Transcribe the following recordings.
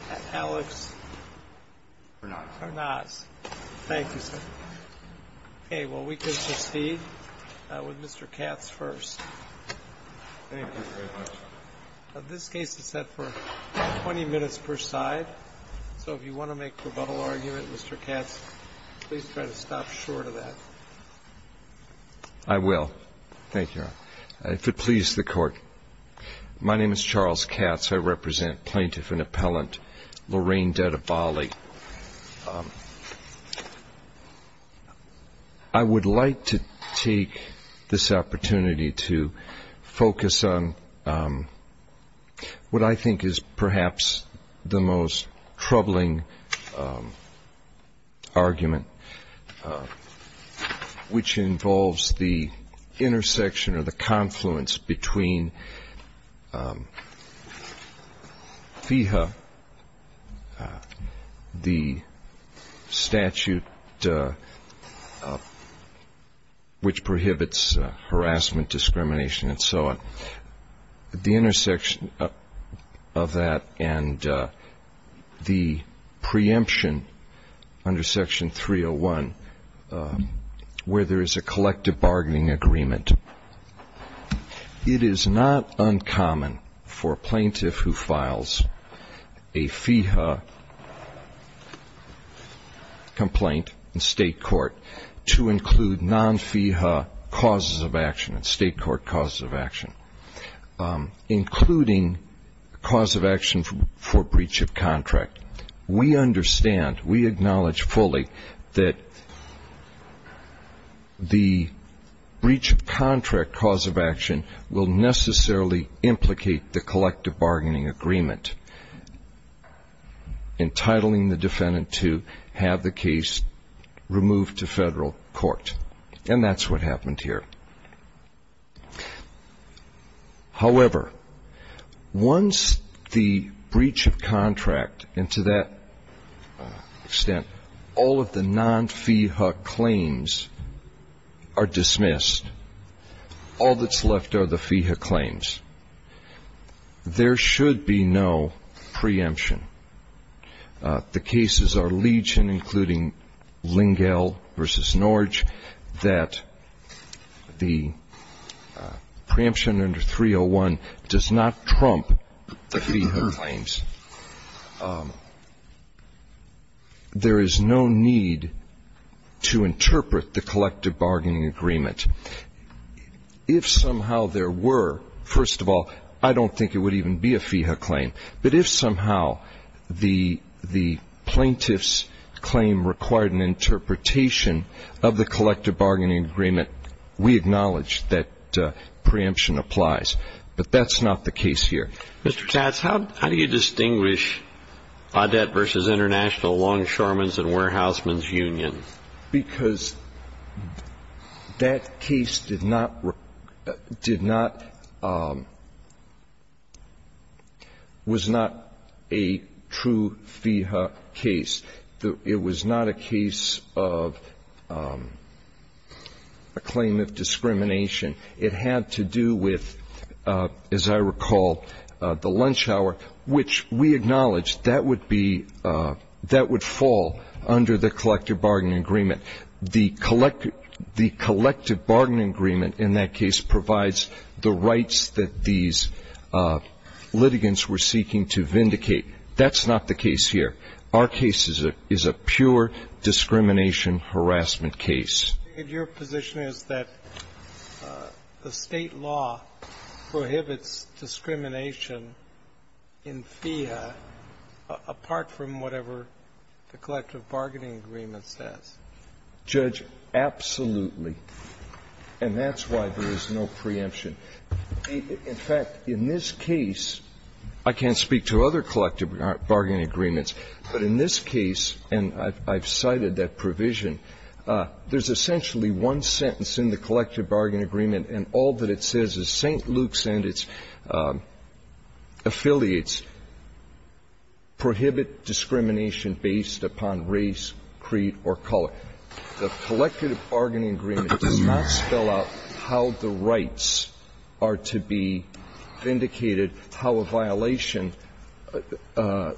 Mr. Katz please stop short of that I will thank you if it pleases the court My name is Charles Katz I represent Plaintiff and Appellant Lorraine Dadabali. I would like to take this opportunity to focus on what I think is perhaps the most troubling argument which involves the intersection or the confluence between FEHA the statute which prohibits harassment discrimination and so on the intersection of that and the preemption under section 301 where there is a collective bargaining agreement it is not uncommon for plaintiff who files a FEHA complaint in state court to include non-FEHA causes of action and state court causes of action including cause of action for breach of contract we understand we acknowledge fully that the breach of contract cause of the defendant to have the case removed to federal court and that's what happened here however once the breach of contract and to that extent all of the non-FEHA claims are dismissed all that's left are the FEHA claims there should be no preemption the cases are Leach and including Lingell versus Norge that the preemption under 301 does not trump the FEHA claims there is no need to interpret the collective bargaining agreement if somehow there were first of all I don't think it would even be a FEHA claim but if somehow the the plaintiff's claim required an interpretation of the collective bargaining agreement we acknowledge that preemption applies but that's not the case here Mr. Tatz how do you distinguish Audet versus International Longshoremen's and Warehousemen's Union? because that case did not did not was not a true FEHA case it was not a case of a claim of discrimination it had to do with as I recall the lunch hour which we acknowledge that would be that would fall under the collective bargaining agreement the collective the collective bargaining agreement in that case provides the rights that these litigants were seeking to vindicate that's not the case here our case is a pure discrimination harassment case your position is that the state law prohibits discrimination in FEHA apart from whatever the collective bargaining agreement says judge absolutely and that's why there is no preemption in fact in this case I can't speak to other collective bargaining agreements but in this case and I've cited that provision there's essentially one sentence in the collective bargaining agreement and all that it says is St. Luke's and its affiliates prohibit discrimination based upon race creed or color the collective bargaining agreement does not spell out how the rights are to be vindicated how a violation an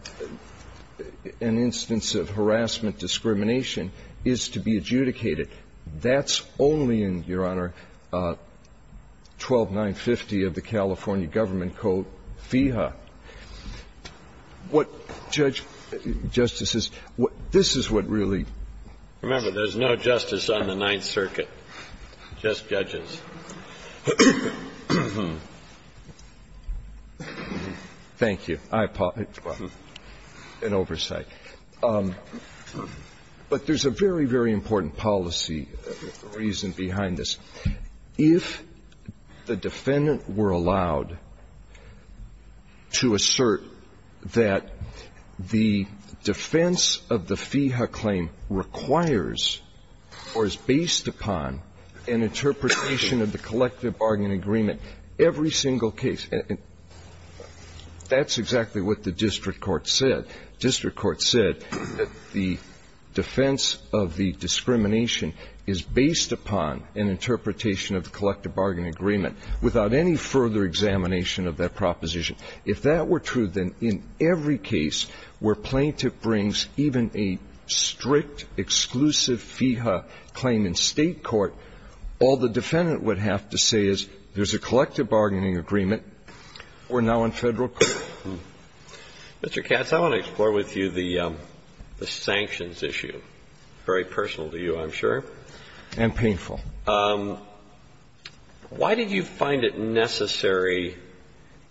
instance of harassment discrimination is to be adjudicated that's only in your honor 12950 of the California government code FEHA what judge justices what this is what really remember there's no justice on the ninth circuit just judges thank you I apologize for an oversight but there's a very very important policy reason behind this if the defendant were allowed to assert that the defense of the FEHA claim requires or is based upon an interpretation of the collective bargaining agreement every single case that's exactly what the district court said district court said the defense of the discrimination is based upon an interpretation of the collective bargaining agreement without any further examination of that proposition if that were true then in every case where plaintiff brings even a strict exclusive FEHA claim in state court all the defendant would have to say is there's a collective bargaining agreement we're now in federal court Mr. Katz I want to explore with you the sanctions issue very personal to you I'm sure and painful why did you find it necessary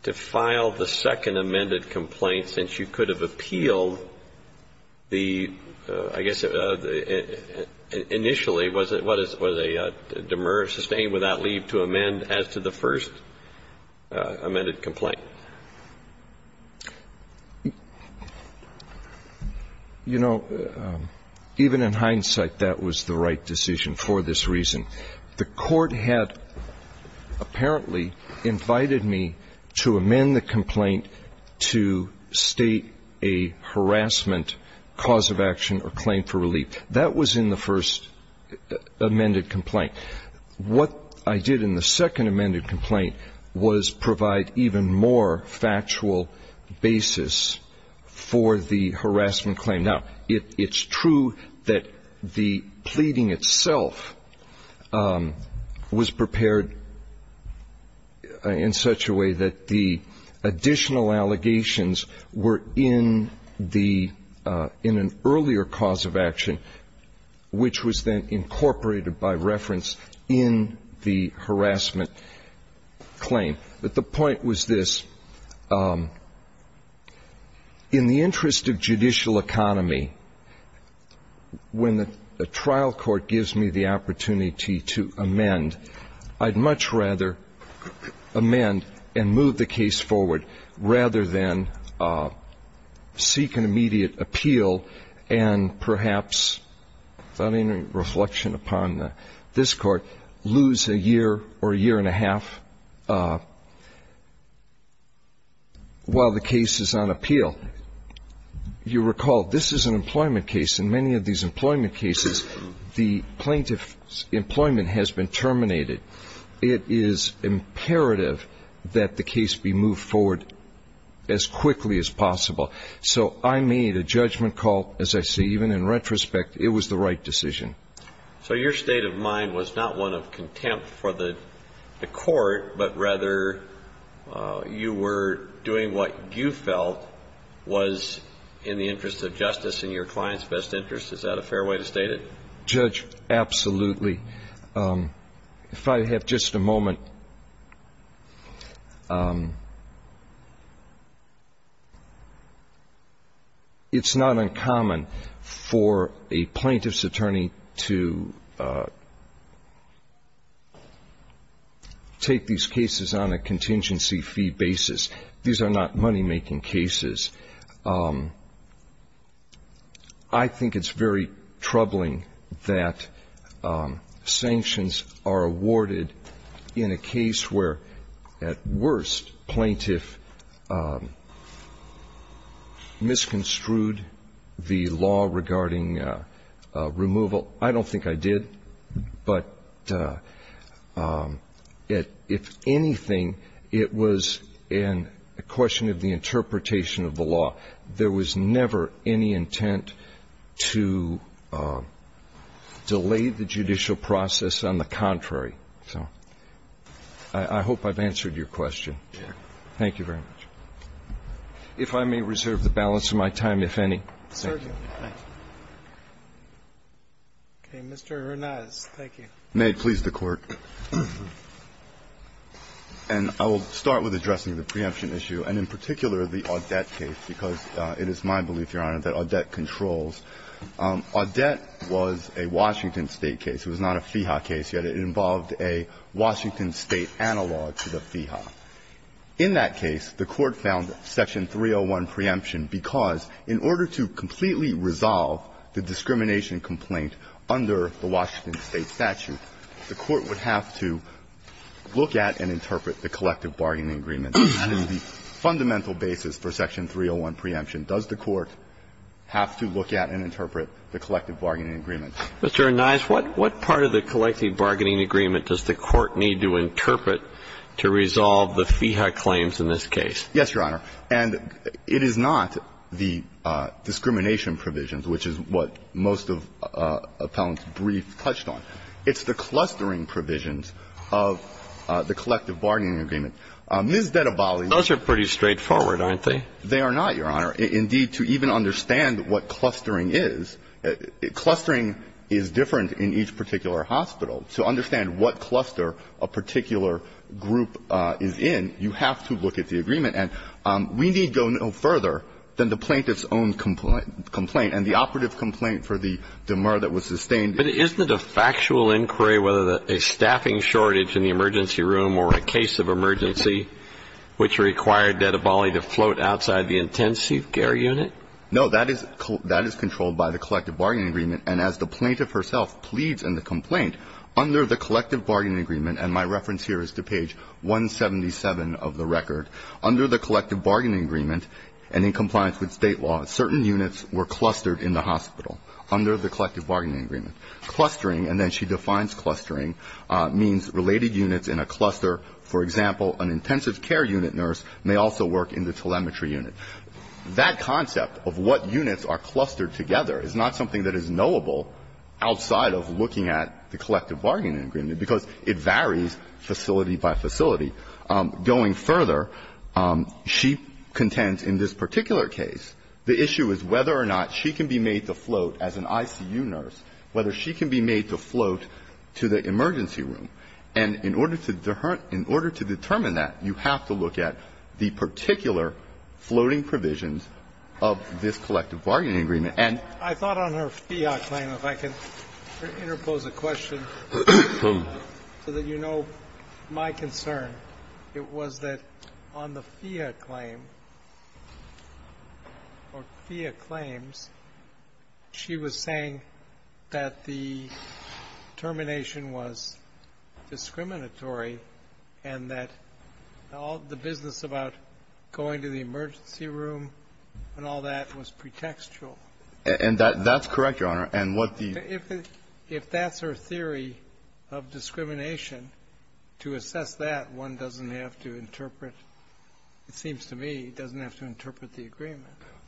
to file the second amended complaint since you could have appealed the I guess initially was it what is it was a demur sustained without leave to amend as to the first amended complaint you know even in hindsight that was the right decision for this reason the court had apparently invited me to amend the complaint to state a harassment that was in the first amended complaint what I did in the second amended complaint was provide even more factual basis for the harassment claim now it's true that the pleading itself was prepared in such a way that the additional allegations were in the in an earlier cause of action which was then incorporated by reference in the harassment claim but the point was this in the interest of judicial economy when the trial court gives me the opportunity to amend I'd much rather amend and move the case forward rather than seek an immediate appeal and perhaps without any reflection upon this court lose a year or a year and a half while the case is on appeal you recall this is an employment case in many of these employment cases the plaintiff's employment has been terminated it is imperative that the case be moved forward as quickly as possible so I made a judgment call as I see even in retrospect it was the right decision so your state of mind was not one of contempt for the court but rather you were doing what you felt was in the interest of justice in your client's best interest is that a fair way to state it? absolutely if I have just a moment it's not uncommon for a plaintiff's attorney to take these cases on a contingency fee basis these are not money-making cases I think it's very troubling that sanctions are awarded in a case where at worst plaintiff misconstrued the law regarding removal well I don't think I did but if anything it was a question of the interpretation of the law there was never any intent to delay the judicial process on the contrary I hope I've answered your question thank you very much if I may reserve the balance of my time if any I will start with addressing the preemption issue and in particular the Audette case because it is my belief your honor that Audette controls Audette was a Washington State case it was not a FIHA case yet it involved a Washington State analog to the FIHA in that case the court found section 301 preemption because in order to completely resolve the discrimination complaint under the Washington State statute the court would have to look at and interpret the collective bargaining agreement the fundamental basis for section 301 preemption does the court have to look at and interpret the collective bargaining agreement Mr. Anais what part of the collective bargaining agreement does the court need to interpret to resolve the FIHA claims in this case yes your honor and it is not the discrimination provisions which is what most of appellants brief touched on it's the clustering provisions of the collective bargaining agreement those are pretty straightforward aren't they they are not your honor indeed to even understand what clustering is clustering is different in each particular hospital to understand what cluster a particular group is in you have to look at the agreement we need to go no further than the plaintiff's own complaint and the operative complaint for the demur that was sustained but isn't it a factual inquiry whether a staffing shortage in the emergency room or a case of emergency which required Dedabali to float outside the intensive care unit no that is controlled by the collective bargaining agreement and as the plaintiff herself pleads in the complaint under the collective bargaining agreement and my reference here is to page 177 of the record under the collective bargaining agreement and in compliance with state law certain units were clustered in the hospital under the collective bargaining agreement clustering and then she defines clustering means related units in a cluster for example an intensive care unit nurse may also work in the telemetry unit that concept of what units are clustered together is not something that is knowable outside of looking at the collective bargaining agreement because it varies facility by facility going further she contends in this particular case the issue is whether or not she can be made to float as an ICU nurse whether she can be made to float to the emergency room and in order to determine that you have to look at the particular floating provisions of this collective bargaining agreement and I thought on her FIA claim if I could interpose a question so that you know my concern it was that on the FIA claim or FIA claims she was saying that the termination was discriminatory and that all the business about going to the emergency room and all that was pretextual and that's correct your honor and what the if that's her theory of discrimination to assess that one doesn't have to interpret it seems to me doesn't have to interpret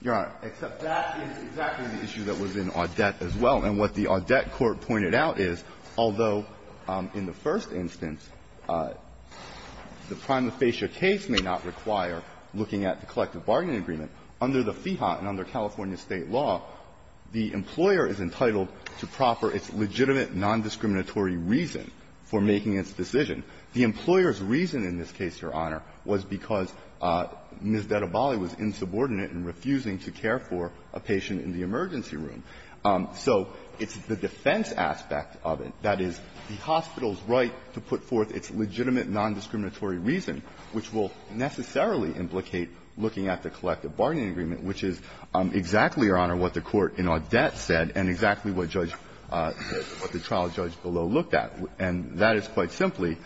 your honor except that is exactly the issue that was in Audet as well and what the Audet court pointed out is although in the first instance the prima facie case may not require looking at the collective bargaining agreement under the FIHA and under California state law the employer is entitled to proper its legitimate non-discriminatory reason for making its decision the employers reason in this case your honor was because Ms. Dettabali was insubordinate and refusing to care for a patient in the emergency room so it's the defense aspect of it that is the hospital's right to put forth its legitimate non-discriminatory reason which will necessarily implicate looking at the collective bargaining agreement which is exactly your honor what the court in Audet said and exactly what the trial judge below looked at and that is quite simply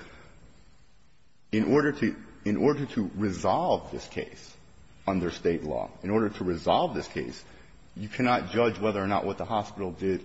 in order to resolve this case under state law in order to resolve this case you cannot judge whether or not what the hospital did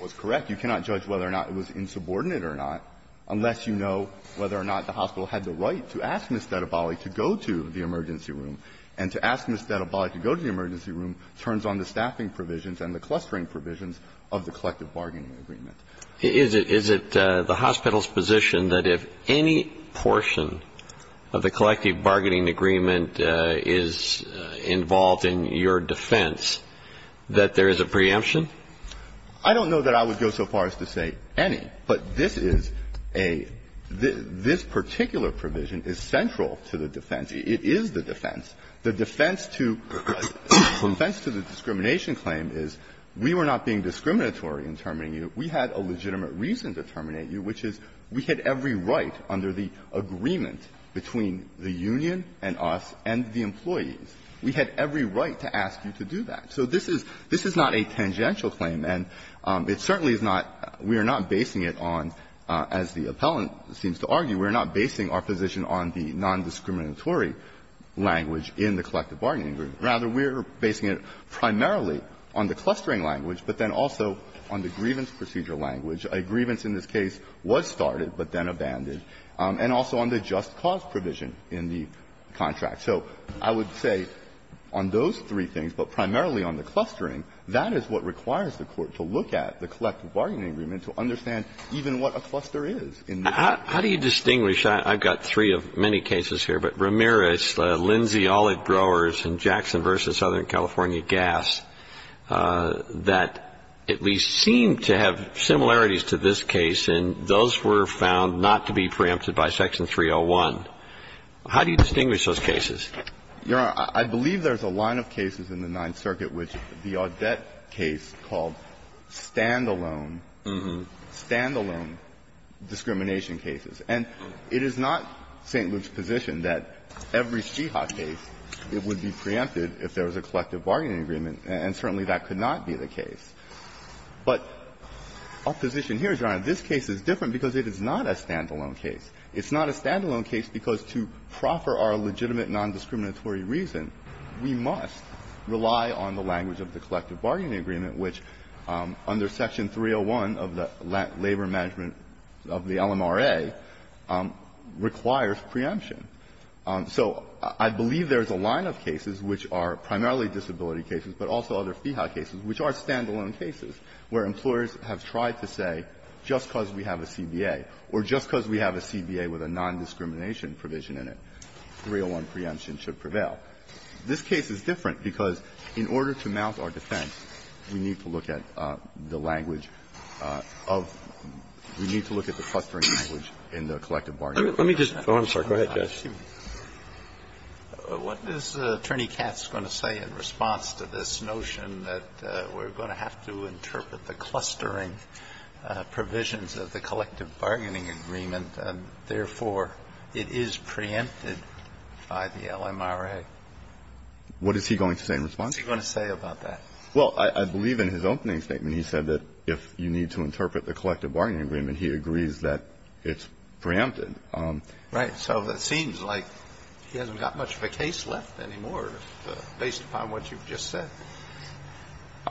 was correct you cannot judge whether or not it was insubordinate or not unless you know whether or not the hospital had the right to ask Ms. Dettabali to go to the emergency room and to ask Ms. Dettabali to go to the emergency room turns on the staffing provisions and the clustering provisions of the collective bargaining agreement. Is it the hospital's position that if any portion of the collective bargaining agreement is involved in your defense that there is a preemption? I don't know that I would go so far as to say any, but this is a, this particular provision is central to the defense. It is the defense. The defense to, the defense to the discrimination claim is we were not being discriminatory in terminating you, we had a legitimate reason to terminate you which is we had every right under the agreement between the union and us and the employees, we had every right to ask you to do that. So this is, this is not a tangential claim and it certainly is not, we are not basing it on, as the appellant seems to argue, we are not basing our position on the non-discriminatory language in the collective bargaining agreement. Rather, we are basing it primarily on the clustering language, but then also on the grievance procedure language. A grievance in this case was started but then abandoned, and also on the just-cause provision in the contract. So I would say on those three things, but primarily on the clustering, that is what requires the Court to look at the collective bargaining agreement to understand even what a cluster is in the case. How do you distinguish, I've got three of many cases here, but Ramirez, Lindsay Olive Growers, and Jackson v. Southern California Gas that at least seem to have similarities to this case, and those were found not to be preempted by Section 301. How do you distinguish those cases? Ramirez, Jr.: Your Honor, I believe there's a line of cases in the Ninth Circuit which the Audet case called standalone, standalone discrimination cases. And it is not St. Luke's position that every CHIHA case, it would be preempted if there was a collective bargaining agreement, and certainly that could not be the case. But our position here is, Your Honor, this case is different because it is not a standalone case. It's not a standalone case because to proffer our legitimate nondiscriminatory reason, we must rely on the language of the collective bargaining agreement, which under Section 301 of the Labor Management of the LMRA requires preemption. So I believe there's a line of cases which are primarily disability cases, but also other CHIHA cases, which are standalone cases where employers have tried to say, just because we have a CBA, or just because we have a CBA with a nondiscrimination provision in it, 301 preemption should prevail. This case is different because in order to mount our defense, we need to look at the language of the clustering language in the collective bargaining agreement. Kennedy, Jr.: Let me just – oh, I'm sorry. Go ahead, Judge. Kennedy, Jr.: What is Attorney Katz going to say in response to this notion that we're going to have to interpret the clustering provisions of the collective bargaining agreement and, therefore, it is preempted by the LMRA? What is he going to say in response? What is he going to say about that? Well, I believe in his opening statement he said that if you need to interpret the collective bargaining agreement, he agrees that it's preempted. Right. So it seems like he hasn't got much of a case left anymore, based upon what you've just said.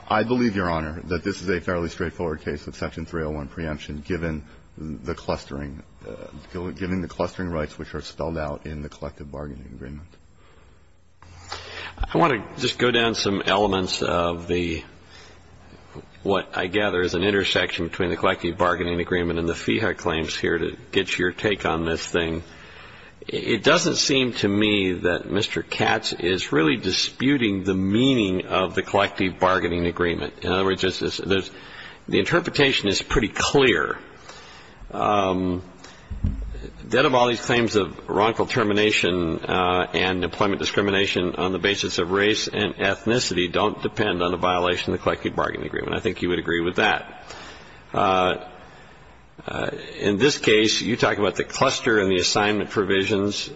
I believe, Your Honor, that this is a fairly straightforward case of Section 301 preemption, given the clustering – given the clustering rights which are spelled out in the collective bargaining agreement. I want to just go down some elements of the – what I gather is an intersection between the collective bargaining agreement and the FIHA claims here to get your take on this thing. It doesn't seem to me that Mr. Katz is really disputing the meaning of the collective bargaining agreement. In other words, there's – the interpretation is pretty clear. That of all these claims of wrongful termination and employment discrimination on the basis of race and ethnicity don't depend on a violation of the collective bargaining agreement. I think you would agree with that. In this case, you talk about the cluster and the assignment provisions.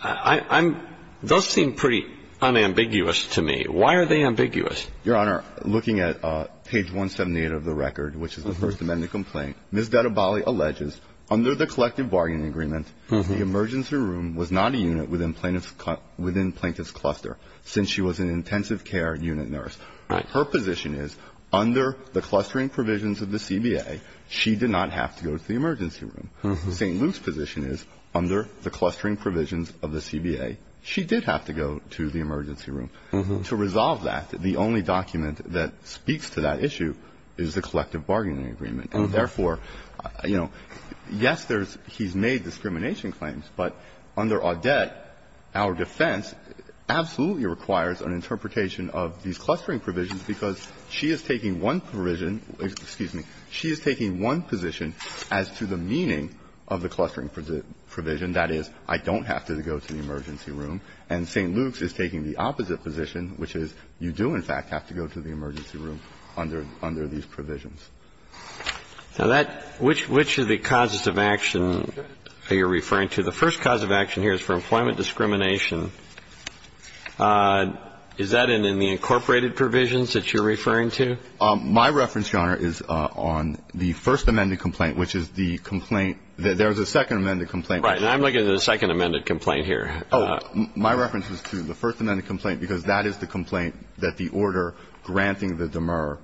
I'm – those seem pretty unambiguous to me. Why are they ambiguous? Your Honor, looking at page 178 of the record, which is the First Amendment complaint, Ms. Dettabali alleges, under the collective bargaining agreement, the emergency room was not a unit within plaintiff's – within plaintiff's cluster, since she was an intensive care unit nurse. Right. Her position is, under the clustering provisions of the CBA, she did not have to go to the emergency room. St. Luke's position is, under the clustering provisions of the CBA, she did have to go to the emergency room. To resolve that, the only document that speaks to that issue is the collective bargaining agreement. And therefore, you know, yes, there's – he's made discrimination claims, but under Audet, our defense absolutely requires an interpretation of these clustering provisions, because she is taking one provision – excuse me – she is taking one position as to the meaning of the clustering provision. That is, I don't have to go to the emergency room. And St. Luke's is taking the opposite position, which is, you do, in fact, have to go to the emergency room under – under these provisions. Now, that – which – which of the causes of action are you referring to? The first cause of action here is for employment discrimination. Is that in the incorporated provisions that you're referring to? My reference, Your Honor, is on the First Amendment complaint, which is the complaint – there's a Second Amendment complaint. Right. And I'm looking at the Second Amendment complaint here. Oh. My reference is to the First Amendment complaint, because that is the complaint that the order granting the demur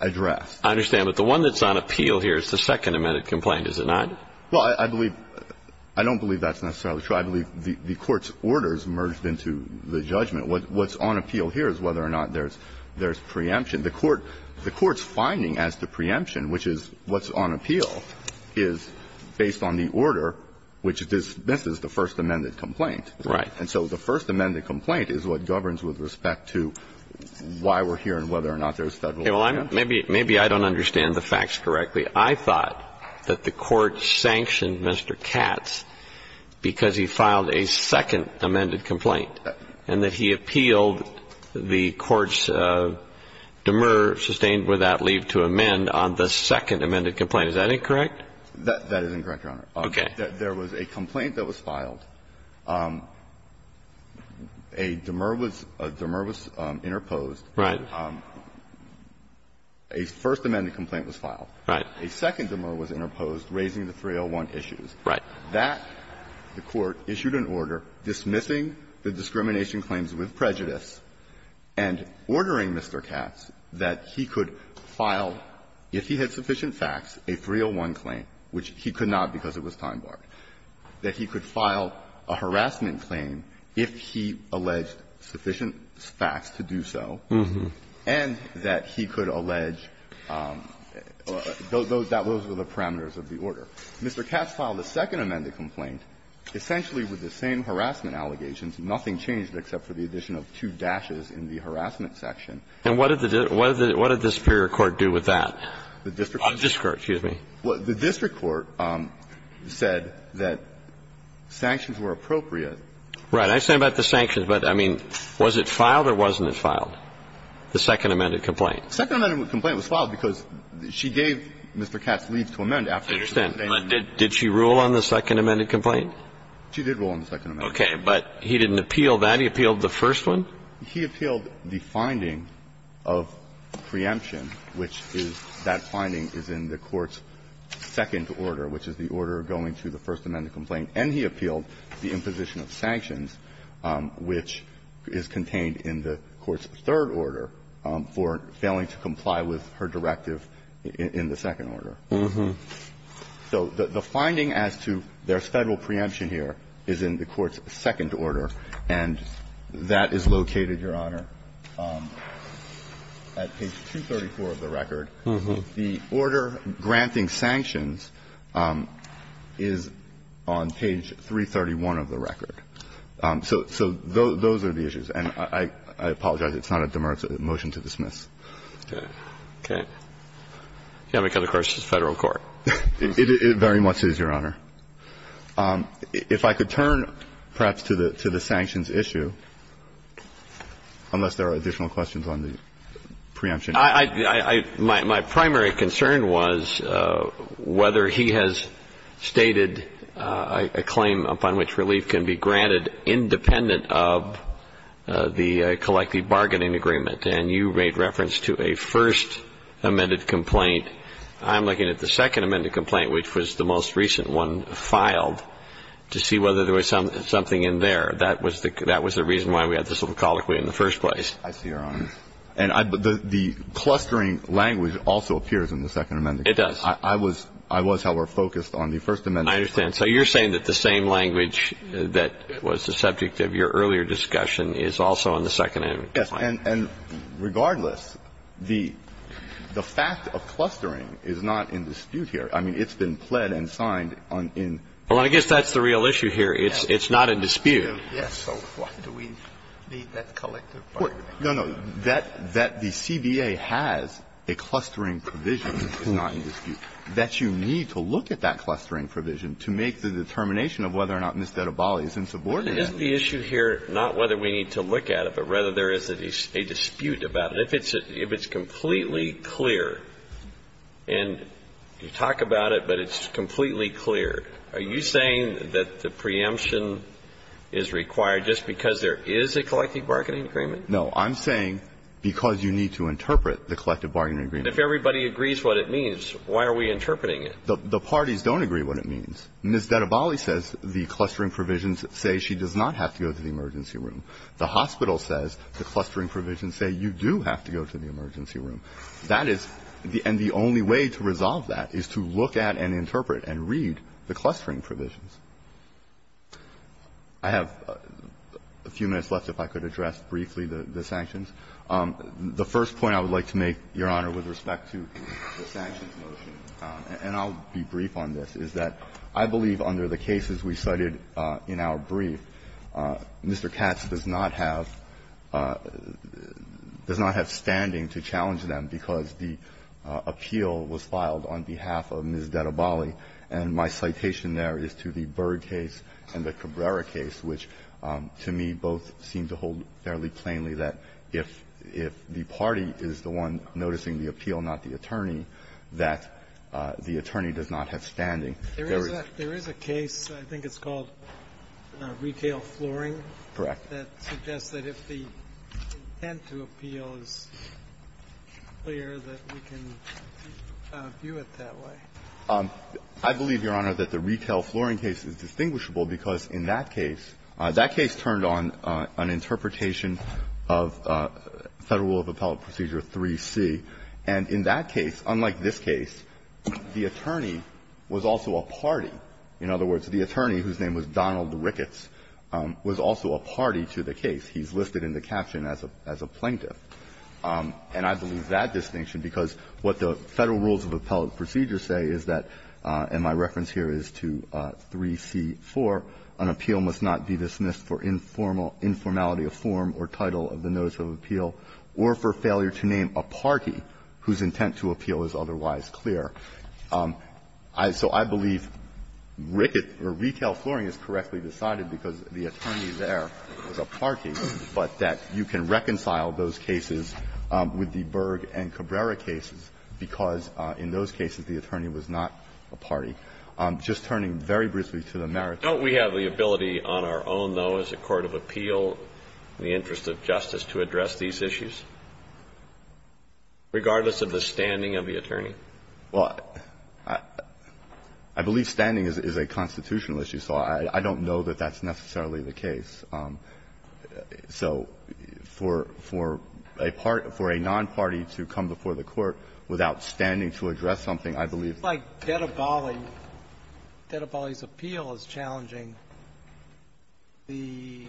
address. I understand. But the one that's on appeal here is the Second Amendment complaint, is it not? Well, I believe – I don't believe that's necessarily true. I believe the court's order is merged into the judgment. What's on appeal here is whether or not there's – there's preemption. The court – the court's finding as to preemption, which is what's on appeal, is based on the order, which dismisses the First Amendment complaint. Right. And so the First Amendment complaint is what governs with respect to why we're here and whether or not there's Federal action. Maybe – maybe I don't understand the facts correctly. I thought that the court sanctioned Mr. Katz because he filed a Second Amendment complaint and that he appealed the court's demur, sustained without leave to amend, on the Second Amendment complaint. Is that incorrect? That is incorrect, Your Honor. Okay. There was a complaint that was filed. A demur was – a demur was interposed. Right. A First Amendment complaint was filed. Right. A Second Amendment was interposed, raising the 301 issues. Right. That – the court issued an order dismissing the discrimination claims with prejudice and ordering Mr. Katz that he could file, if he had sufficient facts, a 301 claim, which he could not because it was time-barred, that he could file a harassment claim if he alleged sufficient facts to do so, and that he could allege – those were the parameters of the order. Mr. Katz filed a Second Amendment complaint. Essentially, with the same harassment allegations, nothing changed except for the addition of two dashes in the harassment section. And what did the – what did the superior court do with that? The district court. The district court. Excuse me. The district court said that sanctions were appropriate. Right. I understand about the sanctions, but, I mean, was it filed or wasn't it filed, the Second Amendment complaint? The Second Amendment complaint was filed because she gave Mr. Katz leave to amend after she was detained. I understand. But did she rule on the Second Amendment complaint? She did rule on the Second Amendment. Okay. But he didn't appeal that. He appealed the first one? He appealed the finding of preemption, which is – that finding is in the court's second order, which is the order going to the First Amendment complaint. And he appealed the imposition of sanctions, which is contained in the court's third order, for failing to comply with her directive in the second order. So the finding as to their Federal preemption here is in the court's second order. And that is located, Your Honor, at page 234 of the record. The order granting sanctions is on page 331 of the record. So those are the issues. And I apologize, it's not a demerit motion to dismiss. Okay. Okay. You don't have any other questions of the Federal court? It very much is, Your Honor. If I could turn, perhaps, to the sanctions issue, unless there are additional questions on the preemption. I – my primary concern was whether he has stated a claim upon which relief can be obtained from the collective bargaining agreement. And you made reference to a First Amendment complaint. I'm looking at the Second Amendment complaint, which was the most recent one filed, to see whether there was something in there. That was the reason why we had this little colloquy in the first place. I see, Your Honor. And I – the clustering language also appears in the Second Amendment. It does. I was – I was, however, focused on the First Amendment. I understand. So you're saying that the same language that was the subject of your earlier discussion is also in the Second Amendment complaint? Yes. And regardless, the fact of clustering is not in dispute here. I mean, it's been pled and signed on in the CBA. Well, I guess that's the real issue here. It's not in dispute. Yes. So what do we need that collective bargaining agreement? No, no. That the CBA has a clustering provision is not in dispute. That you need to look at that clustering provision to make the determination of whether or not Mr. Ebali is insubordinate. Isn't the issue here not whether we need to look at it, but rather there is a dispute about it? If it's a – if it's completely clear, and you talk about it, but it's completely clear, are you saying that the preemption is required just because there is a collective bargaining agreement? No. I'm saying because you need to interpret the collective bargaining agreement. If everybody agrees what it means, why are we interpreting it? The parties don't agree what it means. Ms. Dedabali says the clustering provisions say she does not have to go to the emergency room. The hospital says the clustering provisions say you do have to go to the emergency room. That is the – and the only way to resolve that is to look at and interpret and read the clustering provisions. I have a few minutes left if I could address briefly the sanctions. The first point I would like to make, Your Honor, with respect to the sanctions motion, and I'll be brief on this, is that I believe under the cases we cited in our brief, Mr. Katz does not have – does not have standing to challenge them because the appeal was filed on behalf of Ms. Dedabali, and my citation there is to the Byrd case and the Cabrera case, which, to me, both seem to hold fairly plainly that if – if the party is the one noticing the appeal, not the attorney, that is the one who has the right to say that the attorney does not have standing. There is a case, I think it's called Retail Flooring. Correct. That suggests that if the intent to appeal is clear, that we can view it that way. I believe, Your Honor, that the Retail Flooring case is distinguishable because in that case – that case turned on an interpretation of Federal Rule of Appellate Procedure 3C, and in that case, unlike this case, the attorney was also a party. In other words, the attorney, whose name was Donald Ricketts, was also a party to the case. He's listed in the caption as a – as a plaintiff. And I believe that distinction because what the Federal Rules of Appellate Procedure say is that, and my reference here is to 3C4, an appeal must not be dismissed for informal – informality of form or title of the notice of appeal or for failure to name a party whose intent to appeal is otherwise clear. So I believe Ricketts – or Retail Flooring is correctly decided because the attorney there was a party, but that you can reconcile those cases with the Berg and Cabrera cases because in those cases, the attorney was not a party. So is the Court of Appeal, in the interest of justice, to address these issues, regardless of the standing of the attorney? Well, I believe standing is a constitutional issue, so I don't know that that's necessarily the case. So for a non-party to come before the Court without standing to address something, I believe that's the case. The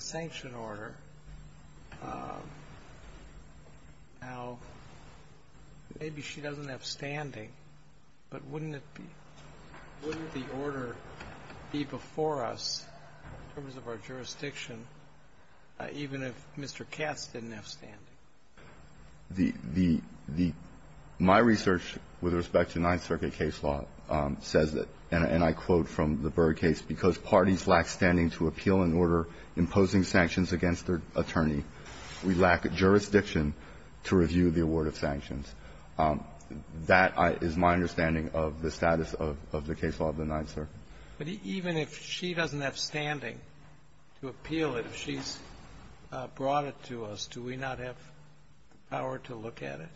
sanction order, now, maybe she doesn't have standing, but wouldn't it be – wouldn't the order be before us in terms of our jurisdiction, even if Mr. Katz didn't have standing? The – the – my research with respect to Ninth Circuit case law says that, and I quote from the Berg case, because parties lack standing to appeal an order imposing sanctions against their attorney, we lack jurisdiction to review the award of sanctions. That is my understanding of the status of the case law of the Ninth Circuit. But even if she doesn't have standing to appeal it, if she's brought it to us, do we not have the power to look at it?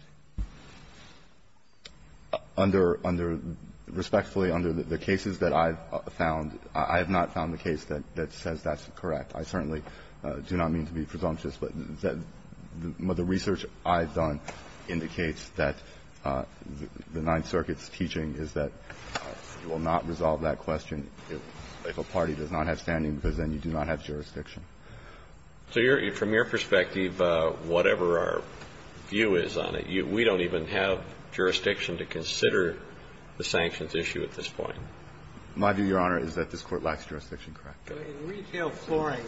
Under – under – respectfully, under the cases that I've found, I have not found the case that says that's correct. I certainly do not mean to be presumptuous, but the research I've done indicates that the Ninth Circuit's teaching is that you will not resolve that question if a party does not have standing, because then you do not have jurisdiction. So you're – from your perspective, whatever our view is on it, you – we don't even have jurisdiction to consider the sanctions issue at this point. My view, Your Honor, is that this Court lacks jurisdiction, correct. In retail flooring,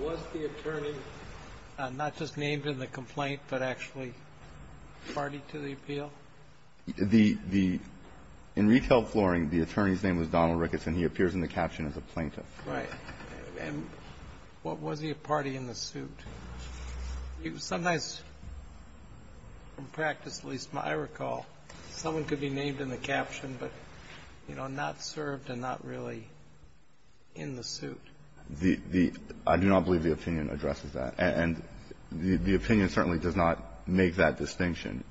was the attorney not just named in the complaint, but actually party to the appeal? The – the – in retail flooring, the attorney's name was Donald Ricketts, and he appears in the caption as a plaintiff. Right. And was he a party in the suit? Sometimes, in practice, at least, I recall, someone could be named in the caption, but, you know, not served and not really in the suit. The – the – I do not believe the opinion addresses that. And the opinion certainly does not make that distinction.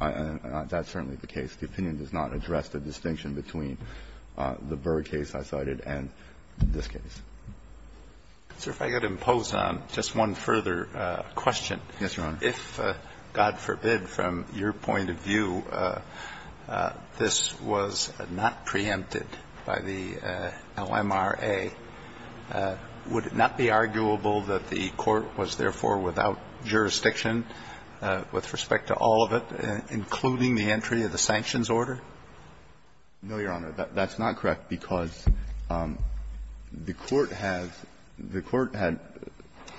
That's certainly the case. The opinion does not address the distinction between the Berg case I cited and this case. So if I could impose on just one further question. Yes, Your Honor. If, God forbid, from your point of view, this was not preempted by the LMRA, would it not be arguable that the Court was therefore without jurisdiction with respect to all of it, including the entry of the sanctions order? No, Your Honor. That's not correct, because the Court has – the Court had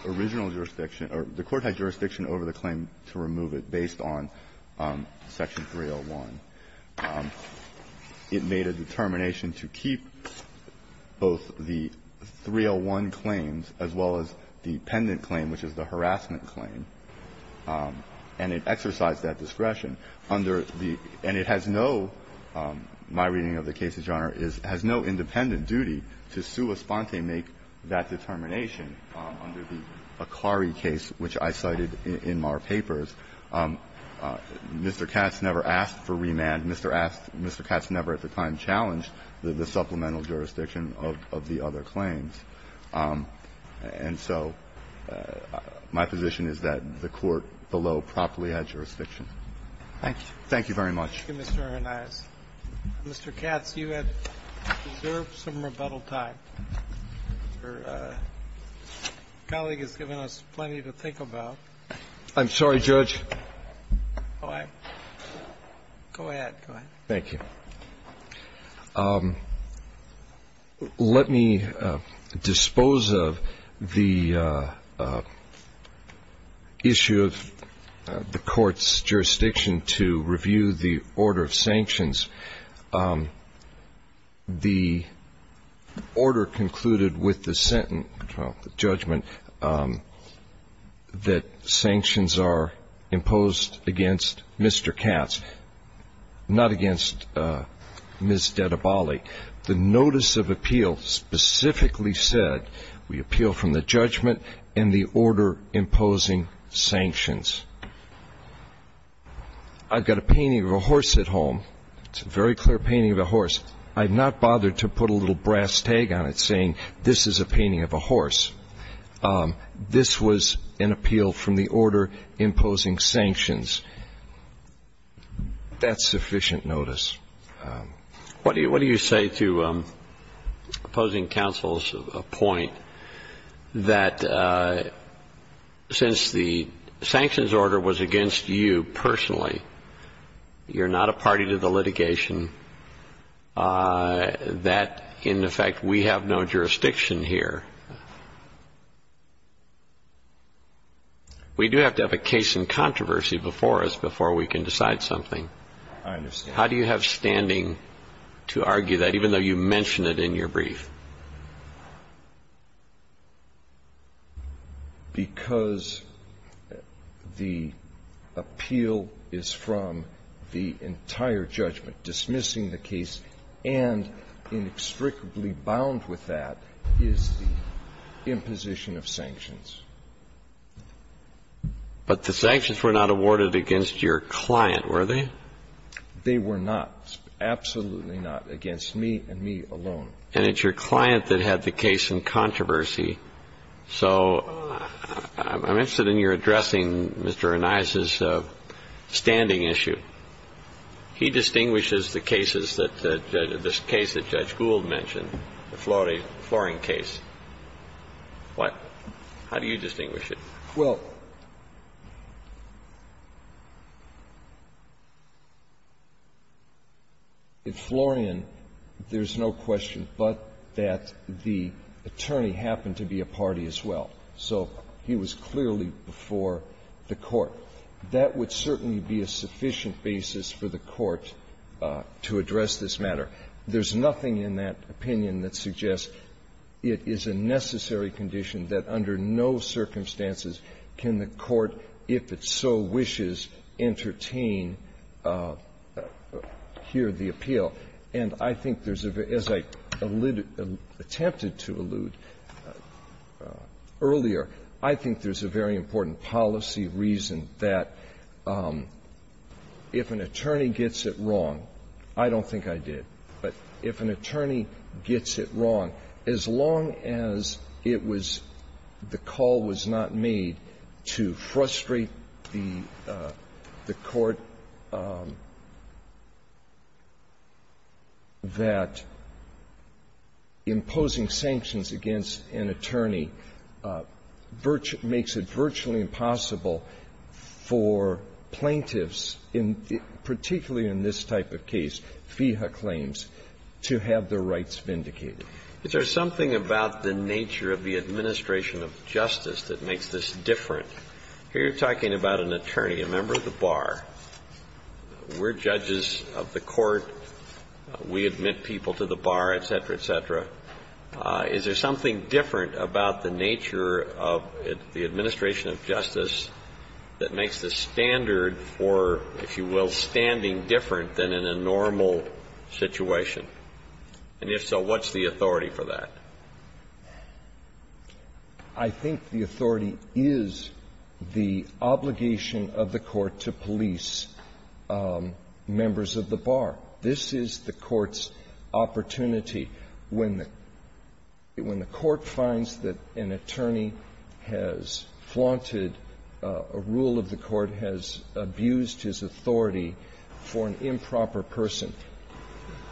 original jurisdiction – or the Court had jurisdiction over the claim to remove it based on Section 301. It made a determination to keep both the 301 claims as well as the pendant claim, which is the harassment claim. And it exercised that discretion under the – and it has no, my reading of the case, Your Honor, is – has no independent duty to sua sponte make that determination under the Akari case, which I cited in my papers. Mr. Katz never asked for remand. Mr. Katz never at the time challenged the supplemental jurisdiction of the other claims. And so my position is that the Court below properly had jurisdiction. Thank you. Thank you very much. Thank you, Mr. Hernandez. Mr. Katz, you have reserved some rebuttal time. Your colleague has given us plenty to think about. I'm sorry, Judge. Go ahead. Go ahead. Thank you. Let me dispose of the issue of the Court's jurisdiction to review the order of sanction The order concluded with the judgment that sanctions are imposed against Mr. Katz, not against Ms. Dedabali. The notice of appeal specifically said we appeal from the judgment and the order imposing sanctions. I've got a painting of a horse at home. It's a very clear painting of a horse. I've not bothered to put a little brass tag on it saying this is a painting of a horse. This was an appeal from the order imposing sanctions. That's sufficient notice. What do you say to opposing counsel's point that since the sanctions order was against you personally, you're not a party to the litigation, that, in effect, we have no jurisdiction here? We do have to have a case in controversy before us before we can decide something. I understand. How do you have standing to argue that, even though you mention it in your brief? Because the appeal is from the entire judgment. Dismissing the case and inextricably bound with that is the imposition of sanctions. But the sanctions were not awarded against your client, were they? They were not, absolutely not, against me and me alone. And it's your client that had the case in controversy. So I'm interested in your addressing Mr. Anais's standing issue. He distinguishes the cases that the case that Judge Gould mentioned, the flooring case. What? How do you distinguish it? Well, in Florian, there's no question but that the attorney happened to be a party as well. So he was clearly before the Court. That would certainly be a sufficient basis for the Court to address this matter. There's nothing in that opinion that suggests it is a necessary condition that, under no circumstances can the Court, if it so wishes, entertain here the appeal. And I think there's a very – as I alluded – attempted to allude earlier, I think there's a very important policy reason that if an attorney gets it wrong – I don't think I did – but if an attorney gets it wrong, as long as it was the call was not made to frustrate the Court that imposing sanctions against an attorney makes it virtually impossible for plaintiffs, particularly in this type of case, FEHA claims, to have their rights vindicated. Is there something about the nature of the administration of justice that makes this different? Here you're talking about an attorney, a member of the bar. We're judges of the Court. We admit people to the bar, et cetera, et cetera. Is there something different about the nature of the administration of justice that makes the standard for, if you will, standing different than in a normal situation? And if so, what's the authority for that? I think the authority is the obligation of the Court to police members of the bar. This is the Court's opportunity. When the Court finds that an attorney has flaunted a rule of the Court, has abused authority for an improper person,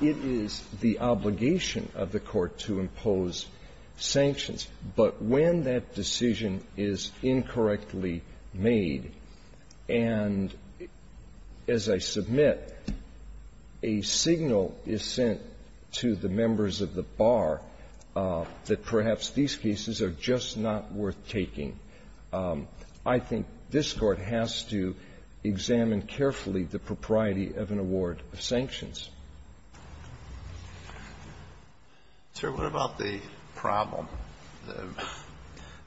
it is the obligation of the Court to impose sanctions. But when that decision is incorrectly made and, as I submit, a signal is sent to the members of the bar that perhaps these cases are just not worth taking, I think this Court has to examine carefully the propriety of an award of sanctions. Sir, what about the problem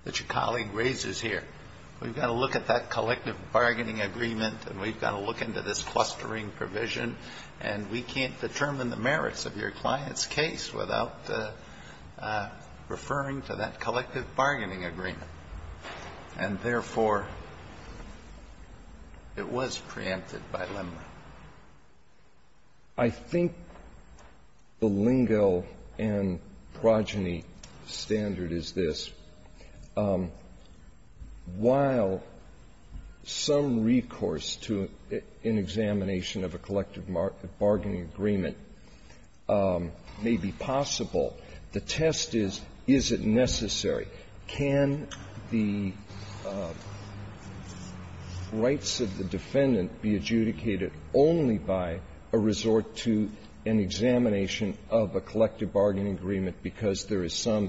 that your colleague raises here? We've got to look at that collective bargaining agreement and we've got to look into this clustering provision, and we can't determine the merits of your client's case without referring to that collective bargaining agreement. And, therefore, it was preempted by Lindner. I think the lingo and progeny standard is this. While some recourse to an examination of a collective bargaining agreement may be possible, the test is, is it necessary? Can the rights of the defendant be adjudicated only by a resort to an examination of a collective bargaining agreement because there is some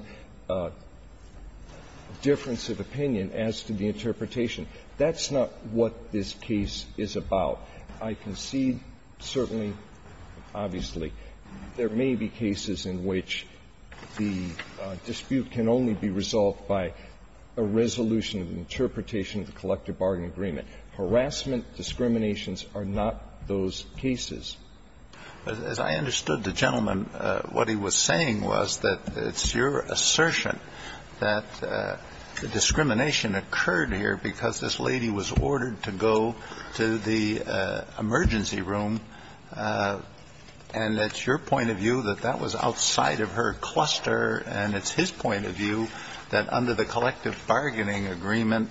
difference of opinion as to the interpretation? That's not what this case is about. I concede, certainly, obviously, there may be cases in which the dispute can only be resolved by a resolution of the interpretation of the collective bargaining agreement. Harassment, discriminations are not those cases. As I understood the gentleman, what he was saying was that it's your assertion that the discrimination occurred here because this lady was ordered to go to the emergency room, and that's your point of view, that that was outside of her cluster, and it's his point of view that under the collective bargaining agreement,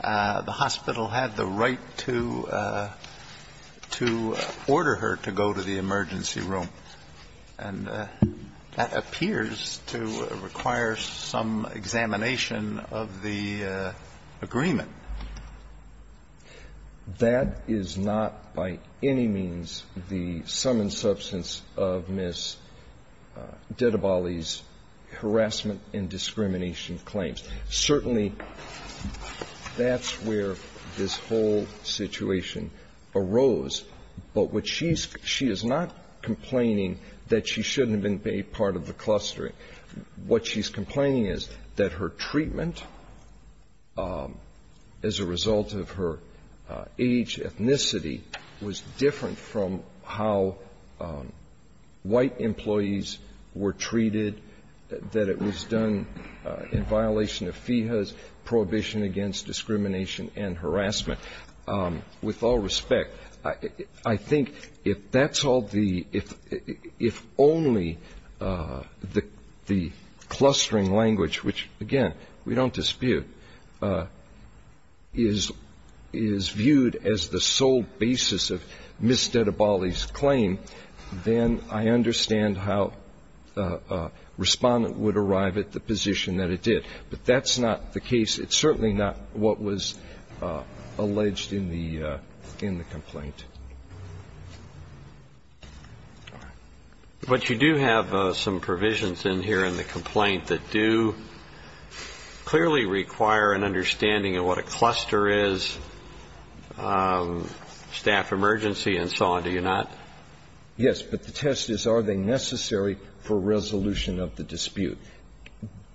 the hospital had the right to, to order her to go to the emergency room. And that appears to require some examination of the agreement. That is not by any means the sum and substance of Ms. Dedabali's harassment and discrimination claims. Certainly, that's where this whole situation arose. But what she's – she is not complaining that she shouldn't have been a part of the clustering. What she's complaining is that her treatment as a result of her age, ethnicity, was different from how white employees were treated, that it was done in violation of FEHA's prohibition against discrimination and harassment. With all respect, I think if that's all the – if only the clustering language, which, again, we don't dispute, is viewed as the sole basis of Ms. Dedabali's claim, then I understand how a respondent would arrive at the position that it did. But that's not the case. It's certainly not what was alleged in the complaint. All right. But you do have some provisions in here in the complaint that do clearly require an understanding of what a cluster is, staff emergency and so on, do you not? Yes. But the test is, are they necessary for resolution of the dispute?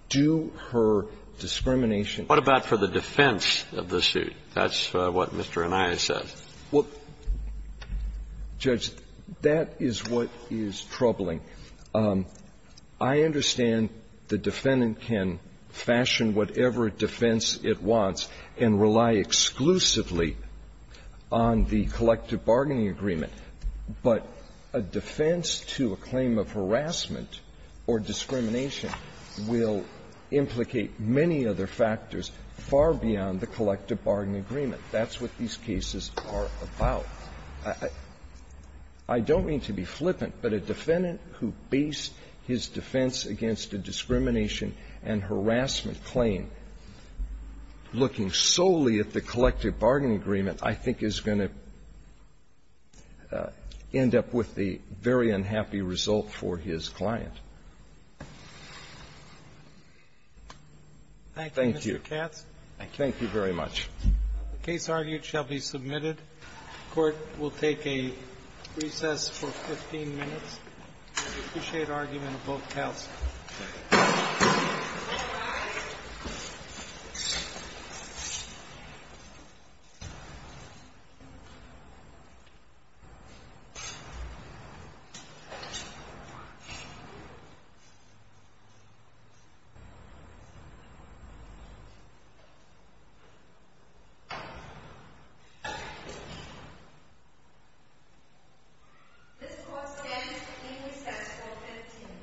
Do her discrimination – What about for the defense of the suit? That's what Mr. Anaya says. Well, Judge, that is what is troubling. I understand the defendant can fashion whatever defense it wants and rely exclusively on the collective bargaining agreement. But a defense to a claim of harassment or discrimination will implicate many other factors far beyond the collective bargaining agreement. That's what these cases are about. I don't mean to be flippant, but a defendant who based his defense against a discrimination and harassment claim, looking solely at the collective bargaining agreement, I think is going to end up with the very unhappy result for his client. Thank you. Thank you, Mr. Katz. Thank you very much. The case argued shall be submitted. Court will take a recess for 15 minutes. We appreciate argument of both counsel. All rise. This court stands to receive recess for 15 minutes. Thank you.